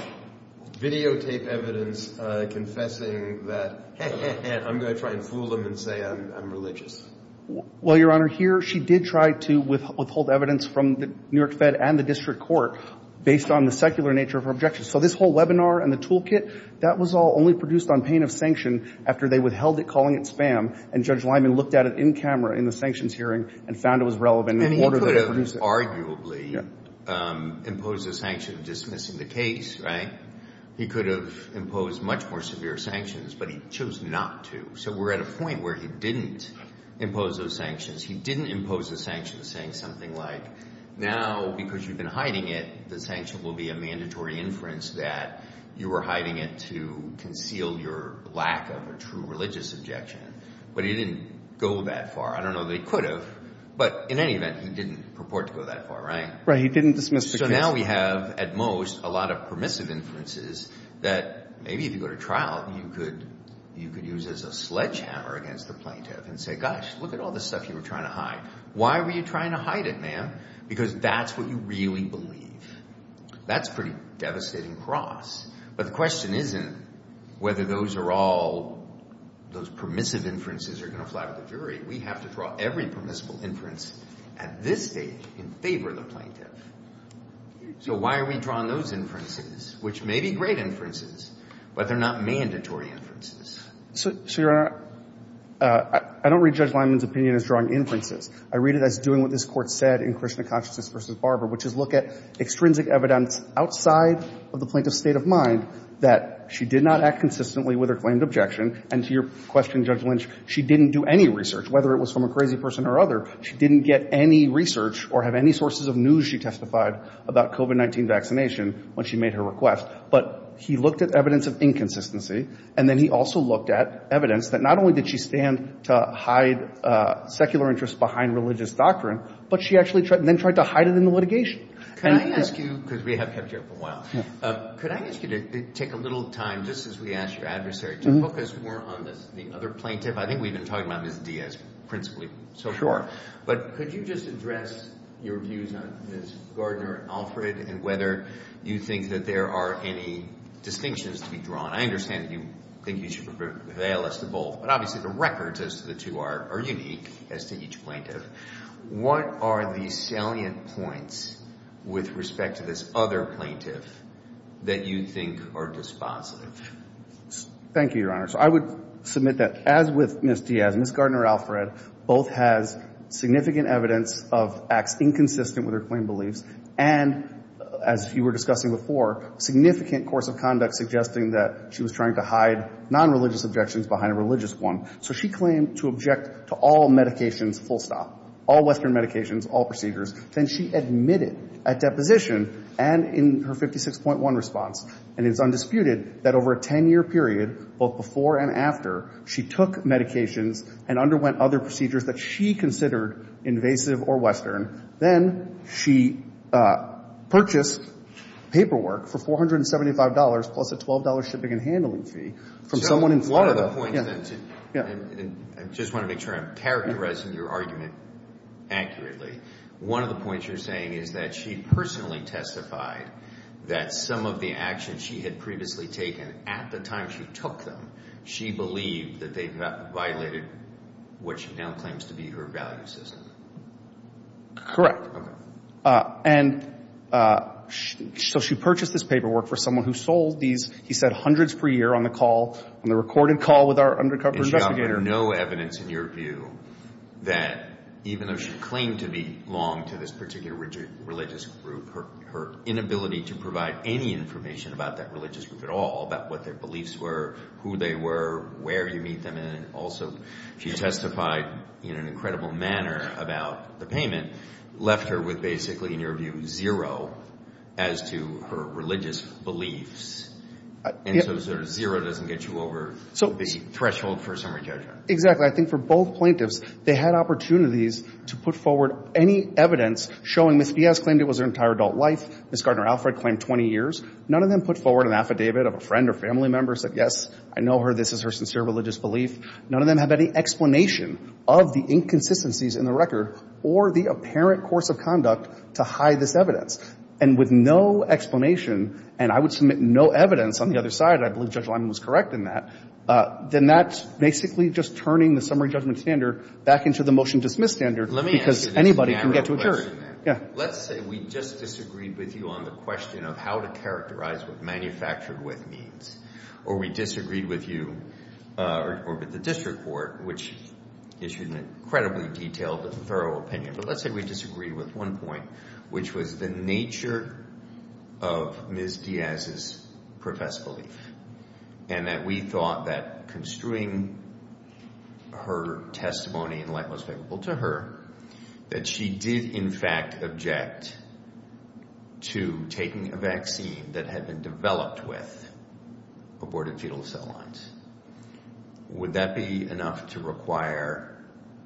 videotape evidence confessing that, hey, hey, hey, I'm going to try and fool them and say I'm religious. Well, Your Honor, here she did try to withhold evidence from the New York Fed and the district court based on the secular nature of her objections. So this whole webinar and the toolkit, that was all only produced on pain of sanction after they withheld it, calling it spam, and Judge Lyman looked at it in camera in the sanctions hearing and found it was relevant in order to produce it. He could have arguably imposed a sanction dismissing the case, right? He could have imposed much more severe sanctions, but he chose not to. So we're at a point where he didn't impose those sanctions. He didn't impose the sanctions saying something like now because you've been hiding it, the sanction will be a mandatory inference that you were hiding it to conceal your lack of a true religious objection. But he didn't go that far. I don't know that he could have. But in any event, he didn't purport to go that far, right? Right. He didn't dismiss the case. So now we have at most a lot of permissive inferences that maybe if you go to trial, you could use as a sledgehammer against the plaintiff and say, gosh, look at all this stuff you were trying to hide. Why were you trying to hide it, ma'am? Because that's what you really believe. That's a pretty devastating cross. But the question isn't whether those are all those permissive inferences are going to fly to the jury. We have to draw every permissible inference at this stage in favor of the plaintiff. So why are we drawing those inferences, which may be great inferences, but they're not mandatory inferences? So, Your Honor, I don't read Judge Lyman's opinion as drawing inferences. I read it as doing what this Court said in Krishna Consciousness v. Barber, which is look at extrinsic evidence outside of the plaintiff's state of mind that she did not act consistently with her claimed objection. And to your question, Judge Lynch, she didn't do any research. Whether it was from a crazy person or other, she didn't get any research or have any sources of news she testified about COVID-19 vaccination when she made her request. But he looked at evidence of inconsistency. And then he also looked at evidence that not only did she stand to hide secular interests behind religious doctrine, but she actually then tried to hide it in the litigation. Can I ask you, because we have kept you up a while, could I ask you to take a little time, just as we ask your adversary, to focus more on the other plaintiff? I think we've been talking about Ms. Diaz principally so far. But could you just address your views on Ms. Gardner and Alfred and whether you think that there are any distinctions to be drawn? I understand that you think you should prevail as to both, but obviously the records as to the two are unique as to each plaintiff. What are the salient points with respect to this other plaintiff that you think are dispositive? Thank you, Your Honor. So I would submit that, as with Ms. Diaz, Ms. Gardner and Alfred both has significant evidence of acts inconsistent with her claimed beliefs and, as you were discussing before, significant course of conduct suggesting that she was trying to hide nonreligious objections behind a religious one. So she claimed to object to all medications full stop, all Western medications, all procedures. Then she admitted at deposition and in her 56.1 response, and it's undisputed, that over a 10-year period, both before and after, she took medications and underwent other procedures that she considered invasive or Western. Then she purchased paperwork for $475 plus a $12 shipping and handling fee from someone in Florida. I just want to make sure I'm characterizing your argument accurately. One of the points you're saying is that she personally testified that some of the actions she had previously taken at the time she took them, she believed that they violated what she now claims to be her value system. Correct. Okay. And so she purchased this paperwork for someone who sold these, he said, And she offered no evidence, in your view, that even though she claimed to belong to this particular religious group, her inability to provide any information about that religious group at all, about what their beliefs were, who they were, where you meet them, and also she testified in an incredible manner about the payment, left her with basically, in your view, zero as to her religious beliefs. And so zero doesn't get you over the threshold for a summary judgment. Exactly. I think for both plaintiffs, they had opportunities to put forward any evidence showing Ms. Piaz claimed it was her entire adult life, Ms. Gardner-Alfred claimed 20 years. None of them put forward an affidavit of a friend or family member, said, Yes, I know her. This is her sincere religious belief. None of them have any explanation of the inconsistencies in the record or the apparent course of conduct to hide this evidence. And with no explanation, and I would submit no evidence on the other side, I believe Judge Lyman was correct in that, then that's basically just turning the summary judgment standard back into the motion-dismiss standard because anybody can get to a jury. Let me ask you this matter of question, then. Yeah. Let's say we just disagreed with you on the question of how to characterize what manufactured with means, or we disagreed with you or with the district court, which issued an incredibly detailed and thorough opinion. But let's say we disagreed with one point, which was the nature of Ms. Piaz's professed belief, and that we thought that construing her testimony in light most favorable to her, that she did, in fact, object to taking a vaccine that had been developed with abortive-fetal cell lines. Would that be enough to require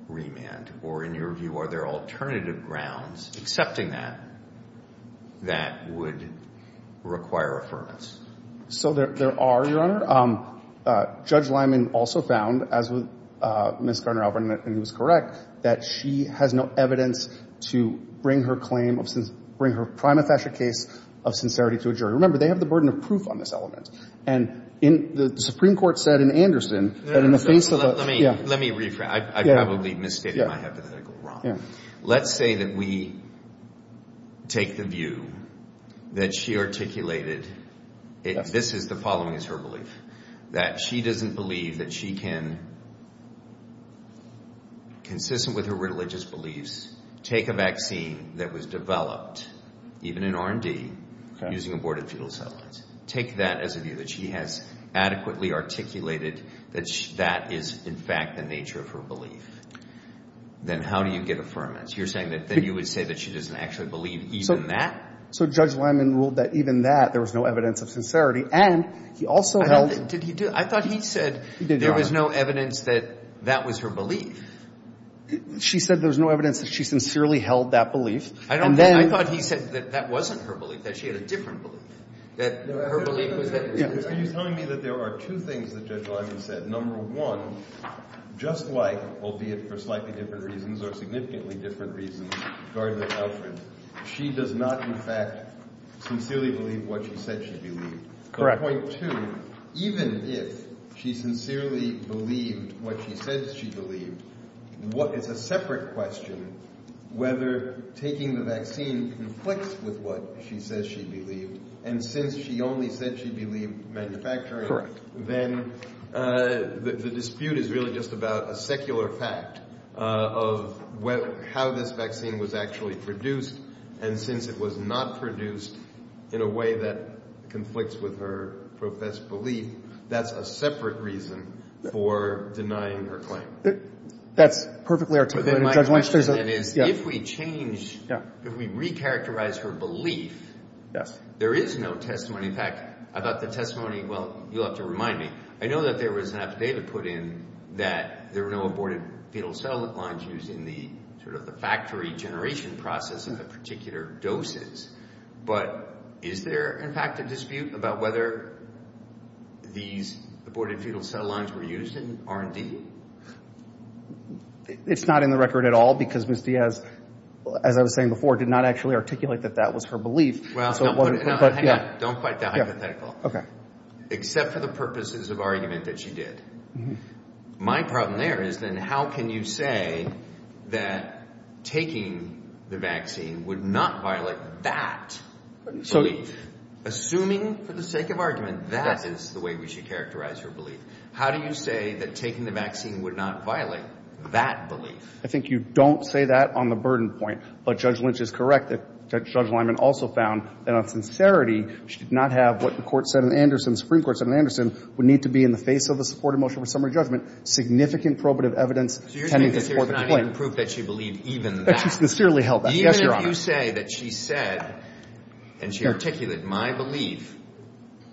remand? Or in your view, are there alternative grounds, excepting that, that would require affirmance? So there are, Your Honor. Judge Lyman also found, as with Ms. Gardner-Albert, and he was correct, that she has no evidence to bring her claim of – bring her prima facie case of sincerity to a jury. Remember, they have the burden of proof on this element. And the Supreme Court said in Anderson that in the face of a – Well, let me rephrase. I probably misstated my hypothetical, Ron. Let's say that we take the view that she articulated – this is the following is her belief, that she doesn't believe that she can, consistent with her religious beliefs, take a vaccine that was developed, even in R&D, using abortive-fetal cell lines. Take that as a view that she has adequately articulated that that is, in fact, the nature of her belief. Then how do you get affirmance? You're saying that then you would say that she doesn't actually believe even that? So Judge Lyman ruled that even that, there was no evidence of sincerity. And he also held – Did he do – I thought he said there was no evidence that that was her belief. She said there's no evidence that she sincerely held that belief. And then – I thought he said that that wasn't her belief, that she had a different belief. That her belief was – He's telling me that there are two things that Judge Lyman said. Number one, just like, albeit for slightly different reasons or significantly different reasons, Gardner and Alfred, she does not, in fact, sincerely believe what she said she believed. Correct. Point two, even if she sincerely believed what she said she believed, it's a separate question whether taking the vaccine conflicts with what she says she believed. And since she only said she believed manufacturing, then the dispute is really just about a secular fact of how this vaccine was actually produced. And since it was not produced in a way that conflicts with her professed belief, that's a separate reason for denying her claim. That's perfectly articulated, Judge Lynch. If we change – if we recharacterize her belief, there is no testimony. In fact, I thought the testimony – well, you'll have to remind me. I know that there was enough data put in that there were no aborted fetal cell lines used in the factory generation process of the particular doses. But is there, in fact, a dispute about whether these aborted fetal cell lines were used in R&D? It's not in the record at all because Ms. Diaz, as I was saying before, did not actually articulate that that was her belief. Hang on. Don't fight that hypothetical. Okay. Except for the purposes of argument that she did. My problem there is then how can you say that taking the vaccine would not violate that belief? Assuming, for the sake of argument, that is the way we should characterize her belief, how do you say that taking the vaccine would not violate that belief? I think you don't say that on the burden point. But Judge Lynch is correct that Judge Lyman also found that on sincerity, she did not have what the Supreme Court said in Anderson would need to be in the face of a supported motion for summary judgment, significant probative evidence tending to support the claim. So you're saying that there's not even proof that she believed even that? That she sincerely held that. Yes, Your Honor. Even if you say that she said, and she articulated, that my belief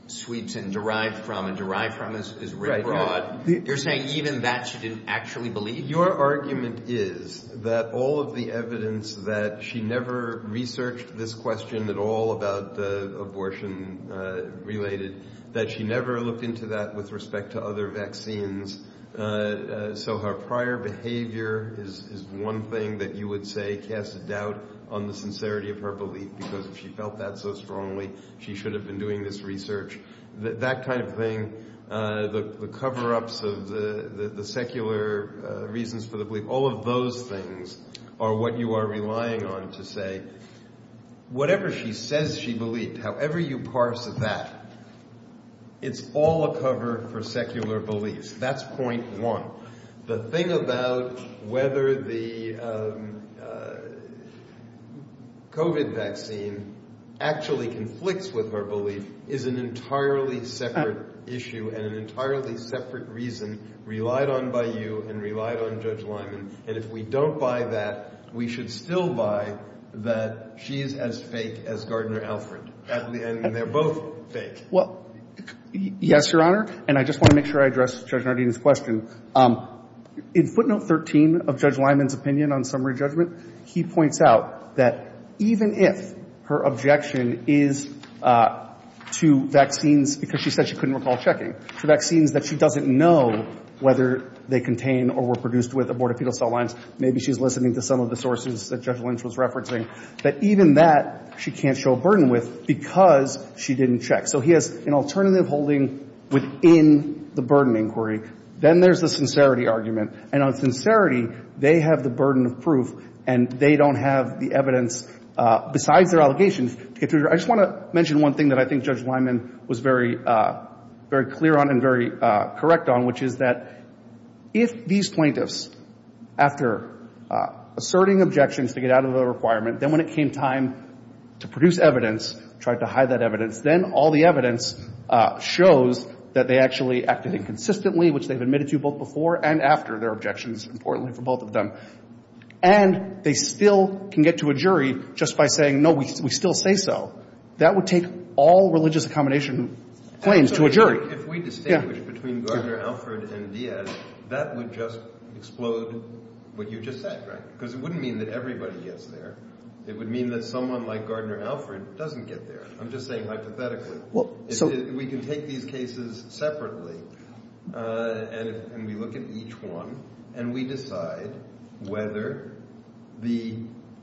sweeps and derived from and derived from is very broad. You're saying even that she didn't actually believe? Your argument is that all of the evidence that she never researched this question at all about abortion related, that she never looked into that with respect to other vaccines. So her prior behavior is one thing that you would say casts a doubt on the sincerity of her belief because if she felt that so strongly, she should have been doing this research. That kind of thing, the cover-ups of the secular reasons for the belief, all of those things are what you are relying on to say, whatever she says she believed, however you parse that, it's all a cover for secular beliefs. That's point one. The thing about whether the COVID vaccine actually conflicts with her belief is an entirely separate issue and an entirely separate reason relied on by you and relied on Judge Lyman. And if we don't buy that, we should still buy that she is as fake as Gardner-Alfred. And they're both fake. Well, yes, Your Honor, and I just want to make sure I address Judge Nardino's question. In footnote 13 of Judge Lyman's opinion on summary judgment, he points out that even if her objection is to vaccines, because she said she couldn't recall checking, to vaccines that she doesn't know whether they contain or were produced with abortifetal cell lines, maybe she's listening to some of the sources that Judge Lynch was referencing, that even that she can't show a burden with because she didn't check. So he has an alternative holding within the burden inquiry. Then there's the sincerity argument. And on sincerity, they have the burden of proof, and they don't have the evidence besides their allegations. I just want to mention one thing that I think Judge Lyman was very clear on and very correct on, which is that if these plaintiffs, after asserting objections to get out of the requirement, then when it came time to produce evidence, tried to hide that evidence, then all the evidence shows that they actually acted inconsistently, which they've admitted to both before and after their objections, importantly for both of them. And they still can get to a jury just by saying, no, we still say so. That would take all religious accommodation claims to a jury. If we distinguish between Gardner-Alford and Diaz, that would just explode what you just said, right? Because it wouldn't mean that everybody gets there. It would mean that someone like Gardner-Alford doesn't get there. I'm just saying hypothetically. We can take these cases separately, and we look at each one, and we decide whether the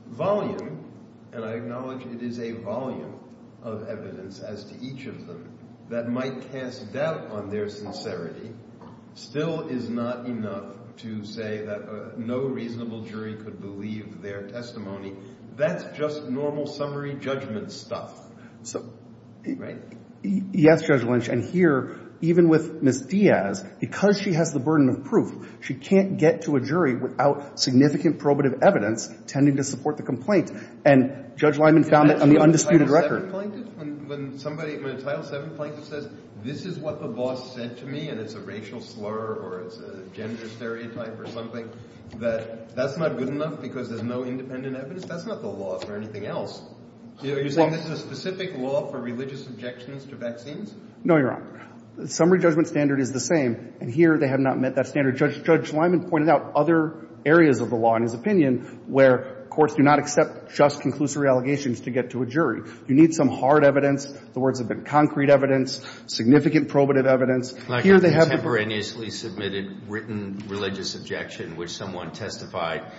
volume, and I acknowledge it is a volume of evidence as to each of them, that might cast doubt on their sincerity still is not enough to say that no reasonable jury could believe their testimony. That's just normal summary judgment stuff. Yes, Judge Lynch. And here, even with Ms. Diaz, because she has the burden of proof, she can't get to a jury without significant probative evidence tending to support the complaint. And Judge Lyman found that on the undisputed record. When a Title VII plaintiff says, this is what the boss said to me, and it's a racial slur or it's a gender stereotype or something, that's not good enough because there's no independent evidence? That's not the law for anything else. Are you saying this is a specific law for religious objections to vaccines? No, Your Honor. The summary judgment standard is the same. And here, they have not met that standard. Judge Lyman pointed out other areas of the law in his opinion where courts do not accept just conclusory allegations to get to a jury. You need some hard evidence. The words have been concrete evidence, significant probative evidence. Like a contemporaneously submitted written religious objection which someone testified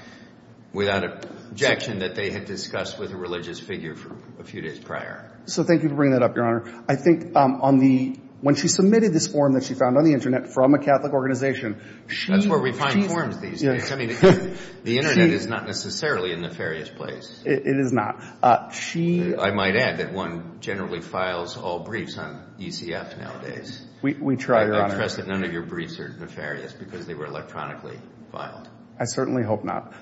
without objection that they had discussed with a religious figure a few days prior. So thank you for bringing that up, Your Honor. I think on the – when she submitted this form that she found on the Internet from a Catholic organization, she – That's where we find forms these days. I mean, the Internet is not necessarily a nefarious place. It is not. I might add that one generally files all briefs on ECF nowadays. We try, Your Honor. I trust that none of your briefs are nefarious because they were electronically filed. I certainly hope not.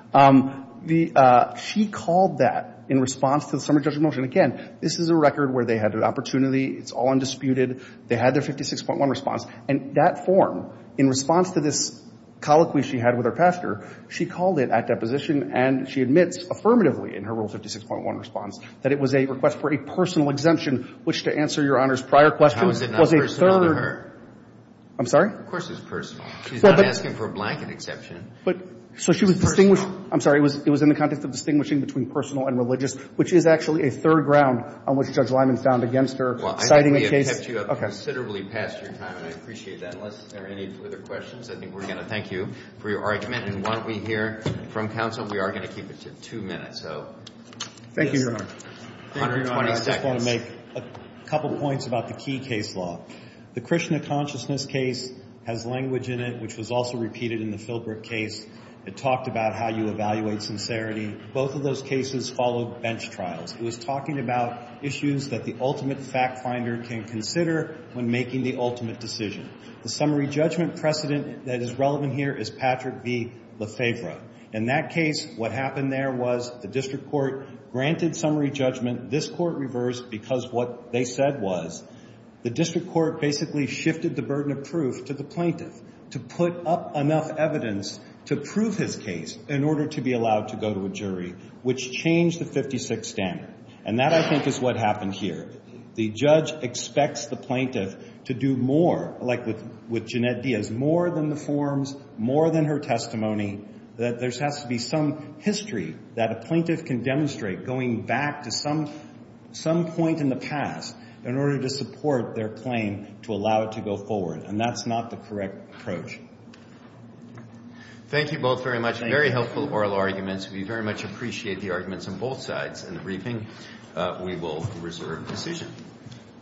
The – she called that in response to the summary judgment motion. Again, this is a record where they had an opportunity. It's all undisputed. They had their 56.1 response. And that form, in response to this colloquy she had with her pastor, she called it at deposition and she admits affirmatively in her Rule 56.1 response that it was a request for a personal exemption, which, to answer Your Honor's prior question, was a third – How is it not personal to her? I'm sorry? Of course it's personal. She's not asking for a blanket exception. But – so she was distinguished – I'm sorry. It was in the context of distinguishing between personal and religious, which is actually a third ground on which Judge Lyman found against her citing a case – Well, I think we have kept you up considerably past your time, and I appreciate that. Unless there are any further questions, I think we're going to thank you for your argument. And while we hear from counsel, we are going to keep it to two minutes. So, yes. Thank you, Your Honor. Your Honor, I just want to make a couple points about the key case law. The Krishna Consciousness case has language in it, which was also repeated in the Philbrook case. It talked about how you evaluate sincerity. Both of those cases followed bench trials. It was talking about issues that the ultimate fact-finder can consider when making the ultimate decision. The summary judgment precedent that is relevant here is Patrick v. Lefebvre. In that case, what happened there was the district court granted summary judgment. This court reversed because what they said was the district court basically shifted the burden of proof to the plaintiff to put up enough evidence to prove his case in order to be allowed to go to a jury, which changed the 56th standard. And that, I think, is what happened here. The judge expects the plaintiff to do more, like with Jeanette Diaz, more than the forms, more than her testimony, that there has to be some history that a plaintiff can demonstrate going back to some point in the past in order to support their claim to allow it to go forward. And that's not the correct approach. Thank you both very much. Very helpful oral arguments. We very much appreciate the arguments on both sides in the briefing. We will reserve decision.